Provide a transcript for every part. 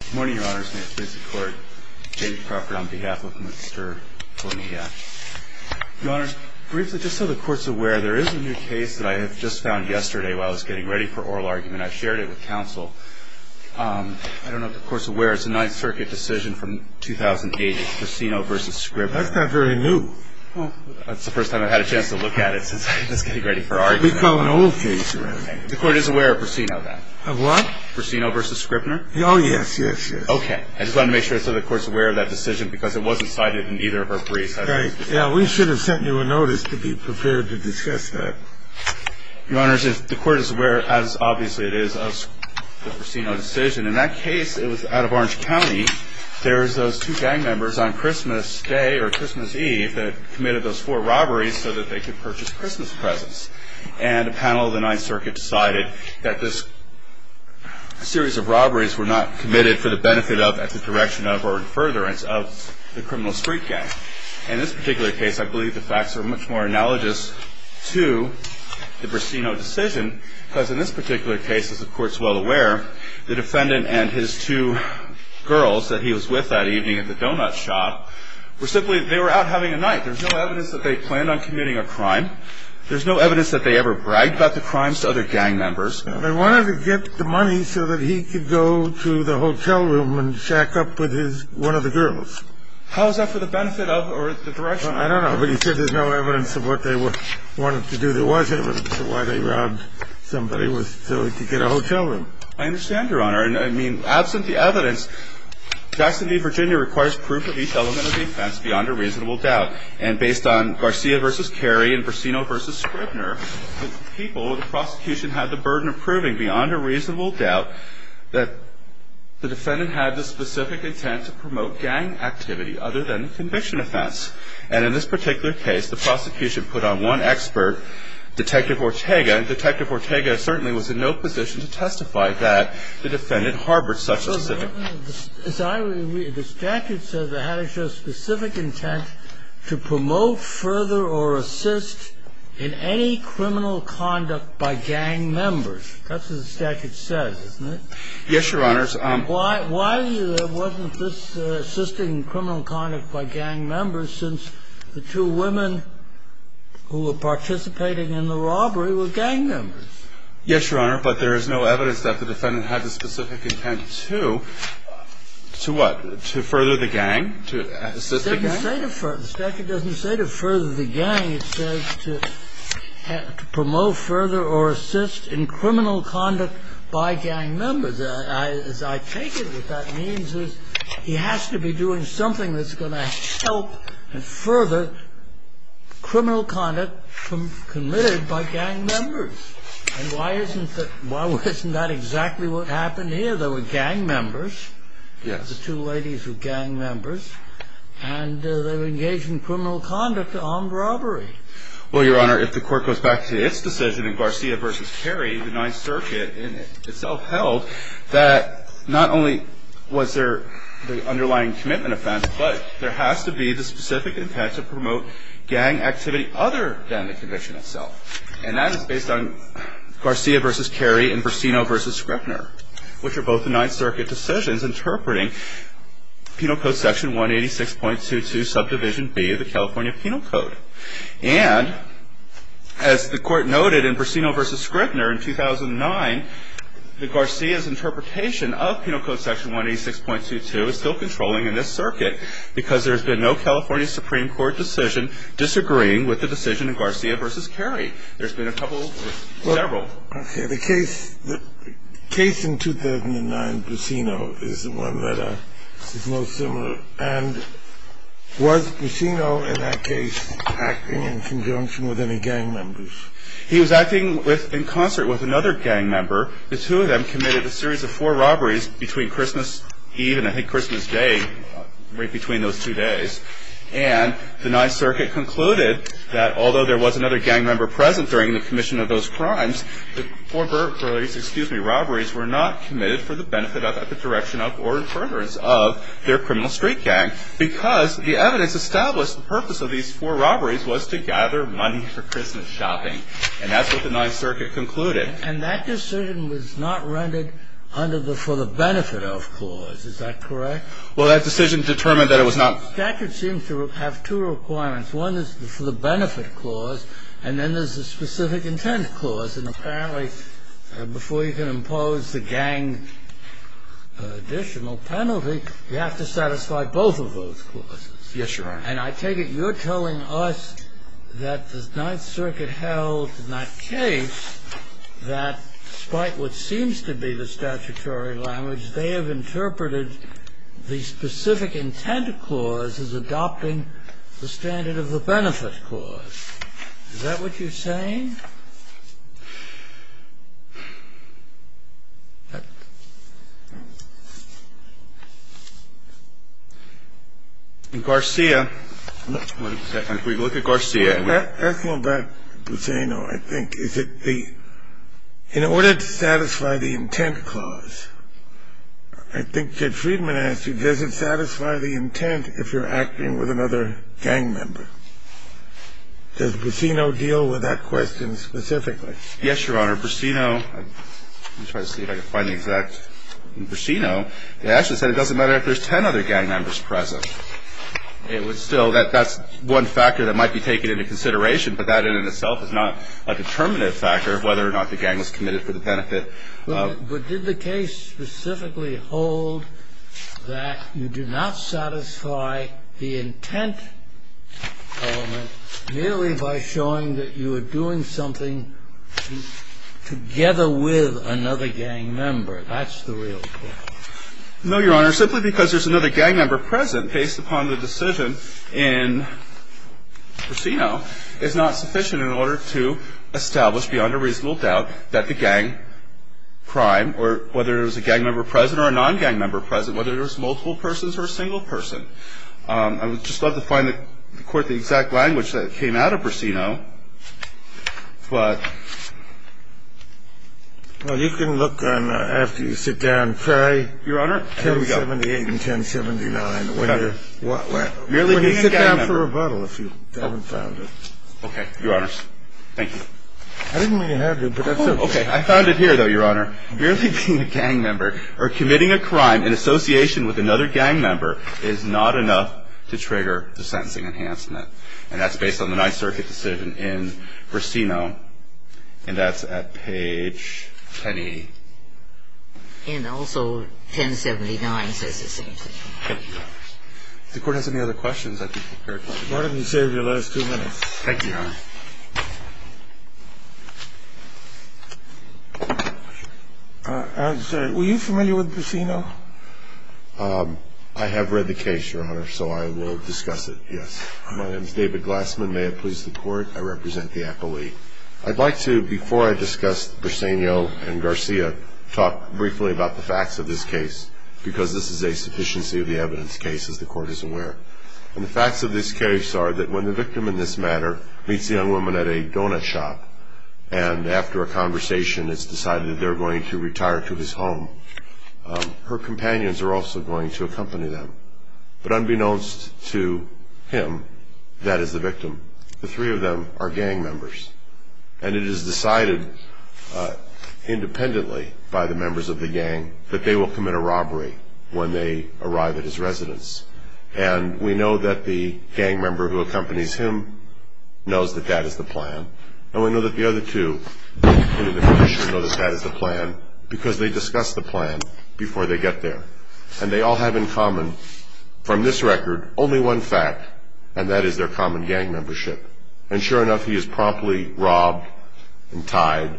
Good morning, Your Honor. This is James Crawford on behalf of Mr. Bonilla. Your Honor, briefly, just so the Court's aware, there is a new case that I have just found yesterday while I was getting ready for oral argument. I shared it with counsel. I don't know if the Court's aware. It's a Ninth Circuit decision from 2008. It's Persino v. Scrippner. That's not very new. Well, that's the first time I've had a chance to look at it since I was getting ready for argument. We call it an old case. The Court is aware of Persino, then. Of what? Persino v. Scrippner. Oh, yes, yes, yes. Okay. I just wanted to make sure the Court's aware of that decision because it wasn't cited in either of our briefs. Yeah, we should have sent you a notice to be prepared to discuss that. Your Honor, the Court is aware, as obviously it is, of the Persino decision. In that case, it was out of Orange County. There was those two gang members on Christmas Day or Christmas Eve that committed those four robberies so that they could purchase Christmas presents. And a panel of the Ninth Circuit decided that this series of robberies were not committed for the benefit of, at the direction of, or in furtherance of the criminal street gang. In this particular case, I believe the facts are much more analogous to the Persino decision because in this particular case, as the Court's well aware, the defendant and his two girls that he was with that evening at the donut shop were simply out having a night. There's no evidence that they planned on committing a crime. There's no evidence that they ever bragged about the crimes to other gang members. They wanted to get the money so that he could go to the hotel room and shack up with one of the girls. How is that for the benefit of, or the direction? I don't know, but he said there's no evidence of what they wanted to do. There was evidence of why they robbed somebody so he could get a hotel room. I understand, Your Honor. I mean, absent the evidence, Jackson v. Virginia requires proof of each element of the offense beyond a reasonable doubt. And based on Garcia v. Carey and Persino v. Scribner, the people, the prosecution, had the burden of proving beyond a reasonable doubt that the defendant had the specific intent to promote gang activity other than the conviction offense. And in this particular case, the prosecution put on one expert, Detective Ortega, and Detective Ortega certainly was in no position to testify that the defendant harbored such a specific intent. The statute says they had to show specific intent to promote further or assist in any criminal conduct by gang members. That's what the statute says, isn't it? Yes, Your Honor. Why wasn't this assisting criminal conduct by gang members since the two women who were participating in the robbery were gang members? Yes, Your Honor, but there is no evidence that the defendant had the specific intent to, to what? To further the gang, to assist the gang? The statute doesn't say to further the gang. It says to promote further or assist in criminal conduct by gang members. As I take it, what that means is he has to be doing something that's going to help and further criminal conduct committed by gang members. And why isn't that exactly what happened here? Well, Your Honor, there were gang members. Yes. The two ladies were gang members. And they were engaged in criminal conduct, armed robbery. Well, Your Honor, if the court goes back to its decision in Garcia v. Carey, the Ninth Circuit in itself held that not only was there the underlying commitment offense, but there has to be the specific intent to promote gang activity other than the conviction itself. And that is based on Garcia v. Carey and Burcino v. Scrippner, which are both Ninth Circuit decisions interpreting Penal Code Section 186.22, Subdivision B of the California Penal Code. And as the court noted in Burcino v. Scrippner in 2009, the Garcias interpretation of Penal Code Section 186.22 is still controlling in this circuit because there has been no California Supreme Court decision disagreeing with the decision in Garcia v. Carey. There's been a couple of several. Okay. The case in 2009, Burcino, is the one that is most similar. And was Burcino in that case acting in conjunction with any gang members? He was acting in concert with another gang member. committed a series of four robberies between Christmas Eve and, I think, Christmas Day, right between those two days. And the Ninth Circuit concluded that although there was another gang member present during the commission of those crimes, the four robberies were not committed for the benefit of, at the direction of, or in furtherance of their criminal street gang because the evidence established the purpose of these four robberies was to gather money for Christmas shopping. And that's what the Ninth Circuit concluded. And that decision was not rendered under the for-the-benefit-of clause. Is that correct? Well, that decision determined that it was not. The statute seems to have two requirements. One is the for-the-benefit clause, and then there's the specific intent clause. And apparently, before you can impose the gang additional penalty, you have to satisfy both of those clauses. Yes, Your Honor. And I take it you're telling us that the Ninth Circuit held in that case that despite what seems to be the statutory language, they have interpreted the specific intent clause as adopting the standard of the benefit clause. Well, that's a different question. I mean, if you look at Garcia and we've... Asking about Busino, I think, is that the — in order to satisfy the intent clause, I think Judge Friedman asked you does it satisfy the intent if you're acting with another gang member? Does Busino deal with that question specifically? Yes, Your Honor. Busino — let me try to see if I can find the exact... In Busino, they actually said it doesn't matter if there's ten other gang members present. It was still — that's one factor that might be taken into consideration, but that in and of itself is not a determinative factor of whether or not the gang was committed for the benefit. But did the case specifically hold that you do not satisfy the intent element merely by showing that you were doing something together with another gang member? That's the real point. No, Your Honor. Simply because there's another gang member present based upon the decision in Busino is not sufficient in order to establish beyond a reasonable doubt that the gang crime, or whether there's a gang member present or a non-gang member present, whether there's multiple persons or a single person. I would just love to find the court the exact language that came out of Busino, but... Well, you can look on — after you sit down, try 1078 and 1079. What? Merely being a gang member. We're going to sit down for rebuttal if you haven't found it. Okay. Your Honors. Thank you. I didn't mean to have to, but that's okay. Oh, okay. I found it here, though, Your Honor. Merely being a gang member or committing a crime in association with another gang member is not enough to trigger the sentencing enhancement. And that's based on the Ninth Circuit decision in Busino, and that's at page 1080. And also 1079 says the same thing. Okay. If the Court has any other questions, I'd be prepared to answer them. Your Honor, you've saved your last two minutes. Thank you, Your Honor. I'm sorry. Were you familiar with Busino? I have read the case, Your Honor, so I will discuss it, yes. My name is David Glassman. May it please the Court. I represent the appellee. I'd like to, before I discuss Busino and Garcia, talk briefly about the facts of this case because this is a sufficiency of the evidence case, as the Court is aware. And the facts of this case are that when the victim in this matter meets the young woman at a donut shop and after a conversation it's decided that they're going to retire to his home, her companions are also going to accompany them. But unbeknownst to him, that is the victim. The three of them are gang members, and it is decided independently by the members of the gang that they will commit a robbery when they arrive at his residence. And we know that the gang member who accompanies him knows that that is the plan, and we know that the other two, including the commissioner, know that that is the plan because they discussed the plan before they got there. And they all have in common, from this record, only one fact, and that is their common gang membership. And sure enough, he is promptly robbed and tied,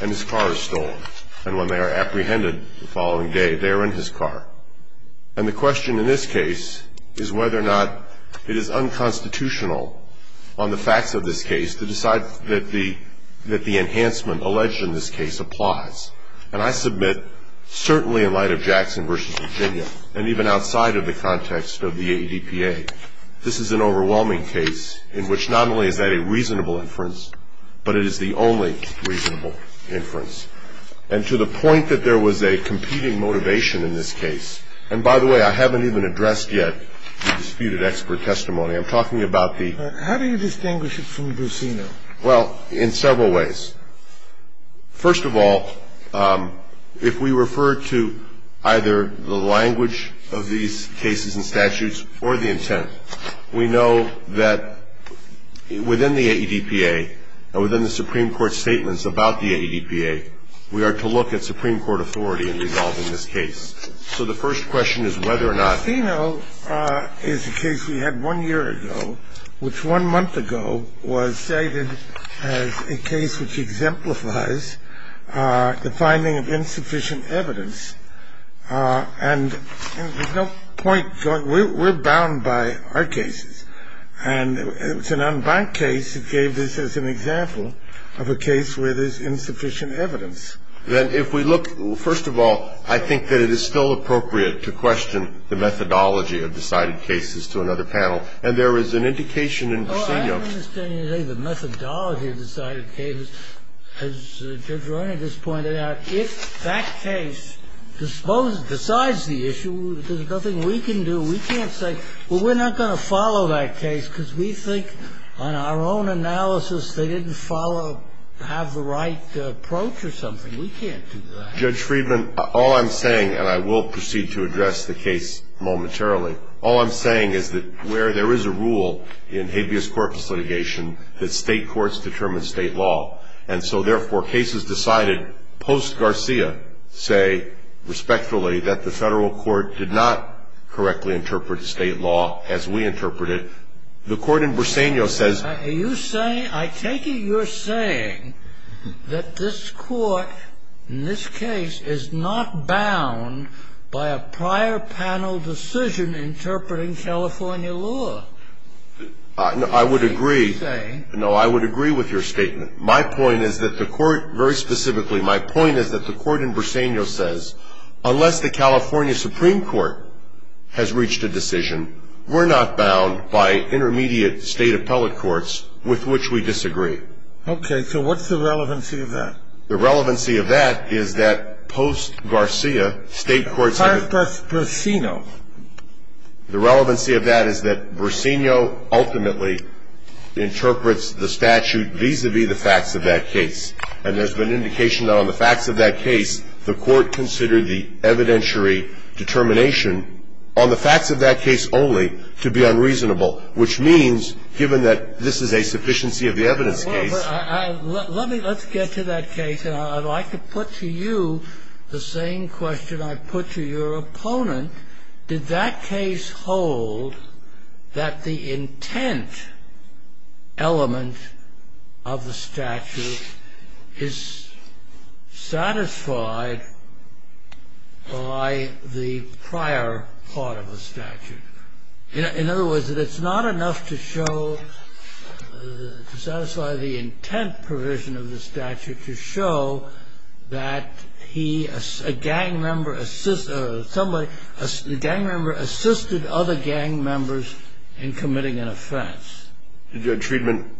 and his car is stolen. And when they are apprehended the following day, they are in his car. And the question in this case is whether or not it is unconstitutional on the facts of this case to decide that the enhancement alleged in this case applies. And I submit, certainly in light of Jackson v. Virginia, and even outside of the context of the ADPA, this is an overwhelming case in which not only is that a reasonable inference, but it is the only reasonable inference. And to the point that there was a competing motivation in this case, and by the way, I haven't even addressed yet the disputed expert testimony. I'm talking about the... How do you distinguish it from Buccino? Well, in several ways. First of all, if we refer to either the language of these cases and statutes or the intent, we know that within the ADPA, within the Supreme Court's statements about the ADPA, we are to look at Supreme Court authority in resolving this case. So the first question is whether or not... Buccino is a case we had one year ago, which one month ago was cited as a case which exemplifies the finding of insufficient evidence. And there's no point going... We're bound by our cases. And it's an unbanked case that gave this as an example of a case where there's insufficient evidence. Then if we look... First of all, I think that it is still appropriate to question the methodology of decided cases to another panel. And there is an indication in Buccino... Well, I don't understand you saying the methodology of decided cases. As Judge Roney just pointed out, if that case decides the issue, there's nothing we can do. We can't say, well, we're not going to follow that case because we think on our own analysis they didn't follow, have the right approach or something. We can't do that. Judge Friedman, all I'm saying, and I will proceed to address the case momentarily, all I'm saying is that where there is a rule in habeas corpus litigation that state courts determine state law, and so therefore cases decided post-Garcia say respectfully that the federal court did not correctly interpret state law as we interpret it, the court in Buccino says... ...interpreting California law. I would agree. No, I would agree with your statement. My point is that the court, very specifically, my point is that the court in Buccino says unless the California Supreme Court has reached a decision, we're not bound by intermediate state appellate courts with which we disagree. Okay, so what's the relevancy of that? The relevancy of that is that post-Garcia, state courts... Where's Buccino? The relevancy of that is that Buccino ultimately interprets the statute vis-à-vis the facts of that case. And there's been indication on the facts of that case the court considered the evidentiary determination on the facts of that case only to be unreasonable, which means given that this is a sufficiency of the evidence case... Let's get to that case, and I'd like to put to you the same question I put to your opponent. Did that case hold that the intent element of the statute is satisfied by the prior part of the statute? In other words, that it's not enough to show, to satisfy the intent provision of the statute, to show that a gang member assisted other gang members in committing an offense. Judge Friedman,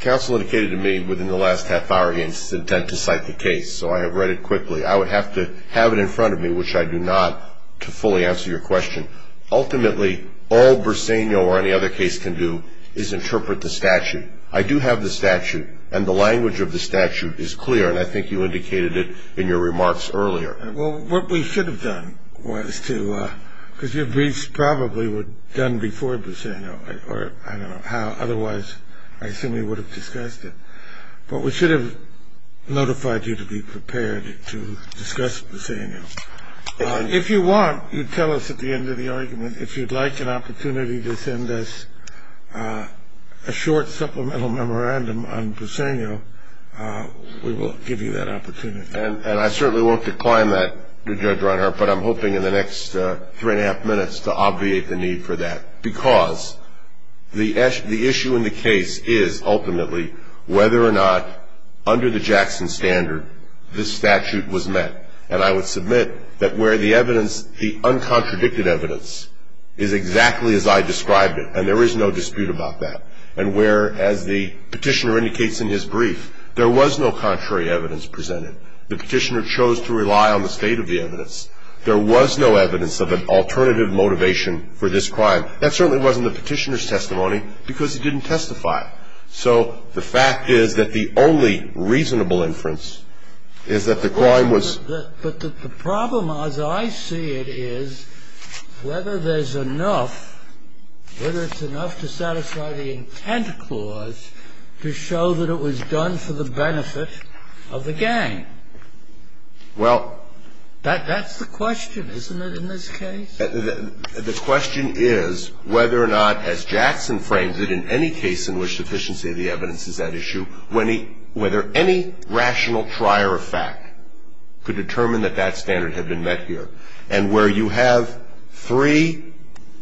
counsel indicated to me within the last half hour his intent to cite the case, so I have read it quickly. I would have to have it in front of me, which I do not, to fully answer your question. Ultimately, all Buccino or any other case can do is interpret the statute. I do have the statute, and the language of the statute is clear, and I think you indicated it in your remarks earlier. Well, what we should have done was to, because your briefs probably were done before Buccino, or I don't know how, otherwise I assume we would have discussed it. But we should have notified you to be prepared to discuss Buccino. If you want, you tell us at the end of the argument, if you'd like an opportunity to send us a short supplemental memorandum on Buccino, we will give you that opportunity. And I certainly won't decline that, Judge Reinhart, but I'm hoping in the next three and a half minutes to obviate the need for that, because the issue in the case is ultimately whether or not under the Jackson standard this statute was met. And I would submit that where the evidence, the uncontradicted evidence, is exactly as I described it, and there is no dispute about that, and where, as the Petitioner indicates in his brief, there was no contrary evidence presented. The Petitioner chose to rely on the state of the evidence. There was no evidence of an alternative motivation for this crime. That certainly wasn't the Petitioner's testimony, because he didn't testify. So the fact is that the only reasonable inference is that the crime was ---- But the problem, as I see it, is whether there's enough, whether it's enough to satisfy the intent clause to show that it was done for the benefit of the gang. Well ---- That's the question, isn't it, in this case? The question is whether or not, as Jackson frames it, in any case in which sufficiency of the evidence is at issue, whether any rational trier of fact could determine that that standard had been met here. And where you have three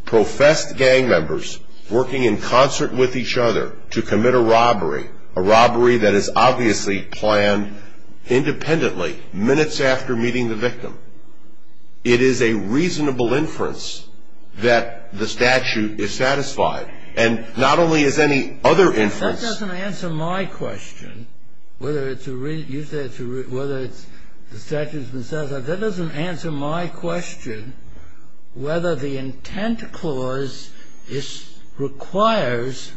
professed gang members working in concert with each other to commit a robbery, a robbery that is obviously planned independently, minutes after meeting the victim, it is a reasonable inference that the statute is satisfied. And not only is any other inference ---- That doesn't answer my question, whether it's a ---- you said it's a ---- whether it's the statute has been satisfied. That doesn't answer my question whether the intent clause requires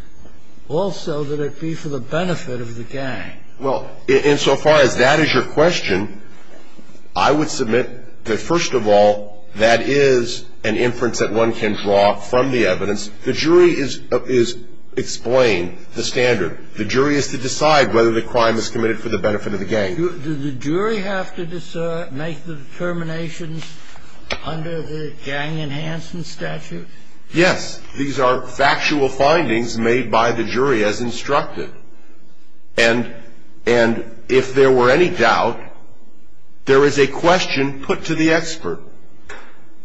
also that it be for the benefit of the gang. Well, insofar as that is your question, I would submit that, first of all, that is an inference that one can draw from the evidence. The jury is to explain the standard. The jury is to decide whether the crime is committed for the benefit of the gang. Do the jury have to make the determinations under the Gang Enhancement Statute? Yes. These are factual findings made by the jury as instructed. And if there were any doubt, there is a question put to the expert.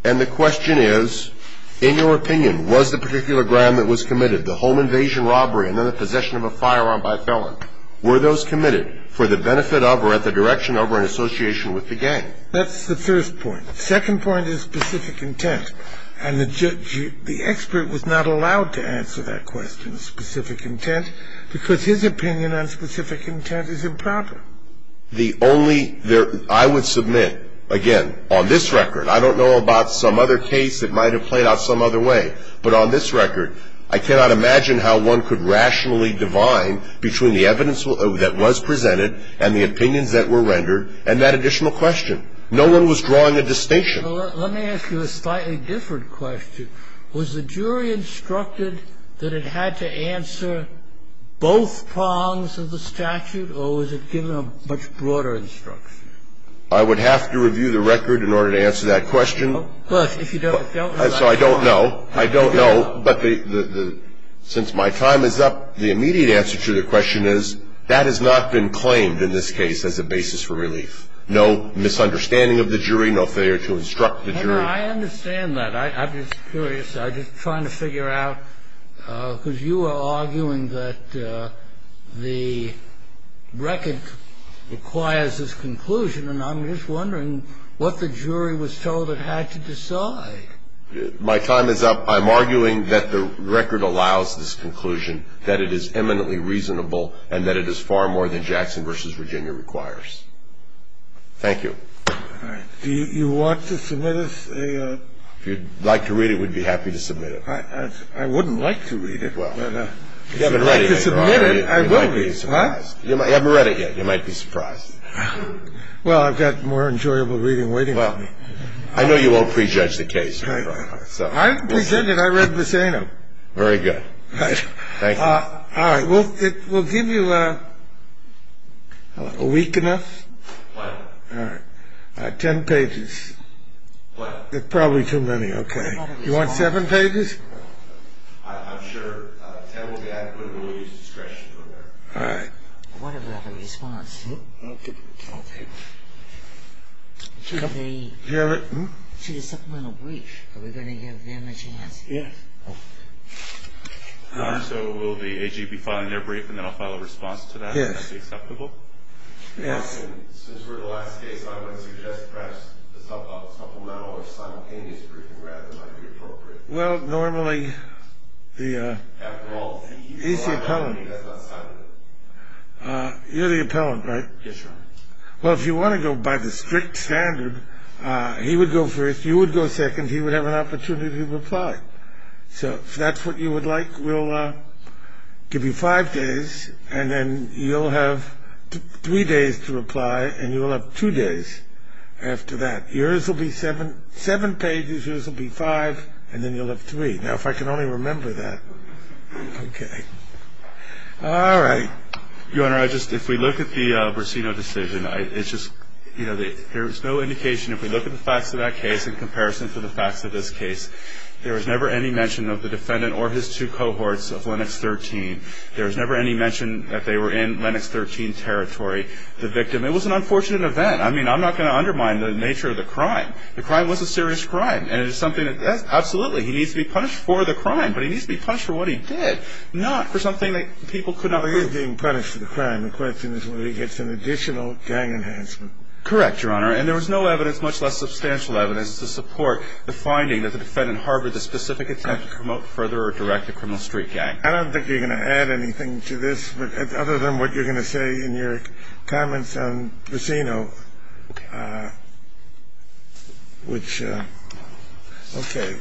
And the question is, in your opinion, was the particular crime that was committed, the home invasion robbery and then the possession of a firearm by a felon, were those committed for the benefit of or at the direction of or in association with the gang? That's the first point. The second point is specific intent. And the expert was not allowed to answer that question, specific intent, because his opinion on specific intent is improper. The only ‑‑ I would submit, again, on this record, I don't know about some other case that might have played out some other way, but on this record, I cannot imagine how one could rationally divine between the evidence that was presented and the opinions that were rendered and that additional question. No one was drawing a distinction. Let me ask you a slightly different question. Was the jury instructed that it had to answer both prongs of the statute, or was it given a much broader instruction? I would have to review the record in order to answer that question. Well, if you don't ‑‑ So I don't know. I don't know. But the ‑‑ since my time is up, the immediate answer to the question is, that has not been claimed in this case as a basis for relief. No misunderstanding of the jury, no failure to instruct the jury. I understand that. I'm just curious. I'm just trying to figure out, because you are arguing that the record requires this conclusion, and I'm just wondering what the jury was told it had to decide. My time is up. I'm arguing that the record allows this conclusion, that it is eminently reasonable, and that it is far more than Jackson v. Virginia requires. Thank you. All right. Do you want to submit us a ‑‑ If you'd like to read it, we'd be happy to submit it. I wouldn't like to read it, but if you'd like to submit it, I will read it. You might be surprised. What? You haven't read it yet. You might be surprised. Well, I've got more enjoyable reading waiting for me. Well, I know you won't prejudge the case. I didn't present it. I read Viseno. Very good. Thank you. All right. We'll give you a week enough. All right. Ten pages. What? That's probably too many. Okay. You want seven pages? I'm sure ten will be adequate. We'll use discretion from there. All right. What about a response? I'll take it. Okay. To the supplemental brief, are we going to give them a chance? Yes. So will the AG be filing their brief, and then I'll file a response to that? Yes. Will that be acceptable? Yes. Since we're the last case, I would suggest perhaps a supplemental or simultaneous briefing rather might be appropriate. Well, normally, he's the appellant. You're the appellant, right? Yes, sir. Well, if you want to go by the strict standard, he would go first. You would go second. He would have an opportunity to reply. So if that's what you would like, we'll give you five days, and then you'll have three days to reply, and you'll have two days after that. Yours will be seven pages. Yours will be five, and then you'll have three. Now, if I can only remember that. Okay. All right. Your Honor, if we look at the Burcino decision, it's just, you know, there's no indication. If we look at the facts of that case in comparison to the facts of this case, there was never any mention of the defendant or his two cohorts of Linux 13. There was never any mention that they were in Linux 13 territory, the victim. It was an unfortunate event. I mean, I'm not going to undermine the nature of the crime. The crime was a serious crime, and it is something that absolutely, he needs to be punished for the crime, but he needs to be punished for what he did, not for something that people could not prove. Well, he is being punished for the crime. The question is whether he gets an additional gang enhancement. Correct, Your Honor, and there was no evidence, much less substantial evidence, to support the finding that the defendant harbored the specific intent to promote, further, or direct a criminal street gang. I don't think you're going to add anything to this, other than what you're going to say in your comments on Burcino, which, okay.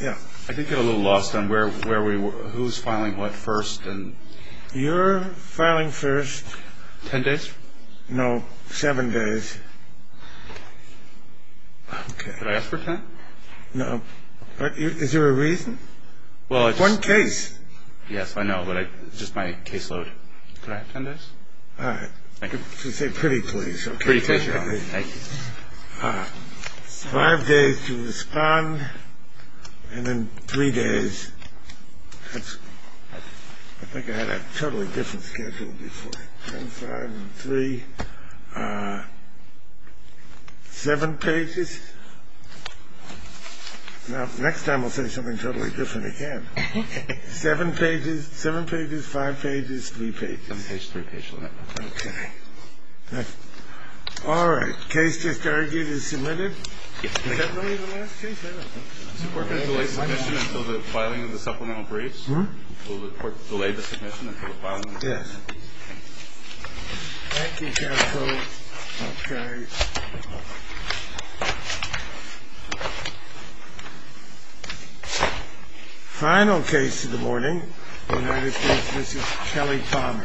Yeah. I did get a little lost on where we were, who's filing what first. You're filing first. Ten days? No, seven days. Okay. Did I ask for ten? No. Is there a reason? One case. Yes, I know, but just my caseload. Could I have ten days? All right. If you say pretty, please. Pretty, please, Your Honor. Thank you. Five days to respond, and then three days. I think I had a totally different schedule before. Ten, five, and three. Seven pages. Now, next time we'll say something totally different again. Seven pages, five pages, three pages. Seven pages, three pages. Okay. All right. Case just argued is submitted. Is that really the last case? Is the court going to delay submission until the filing of the supplemental briefs? Will the court delay the submission until the filing of the supplemental briefs? Yes. Thank you, counsel. Okay. Final case of the morning, United States v. Kelly Palmer.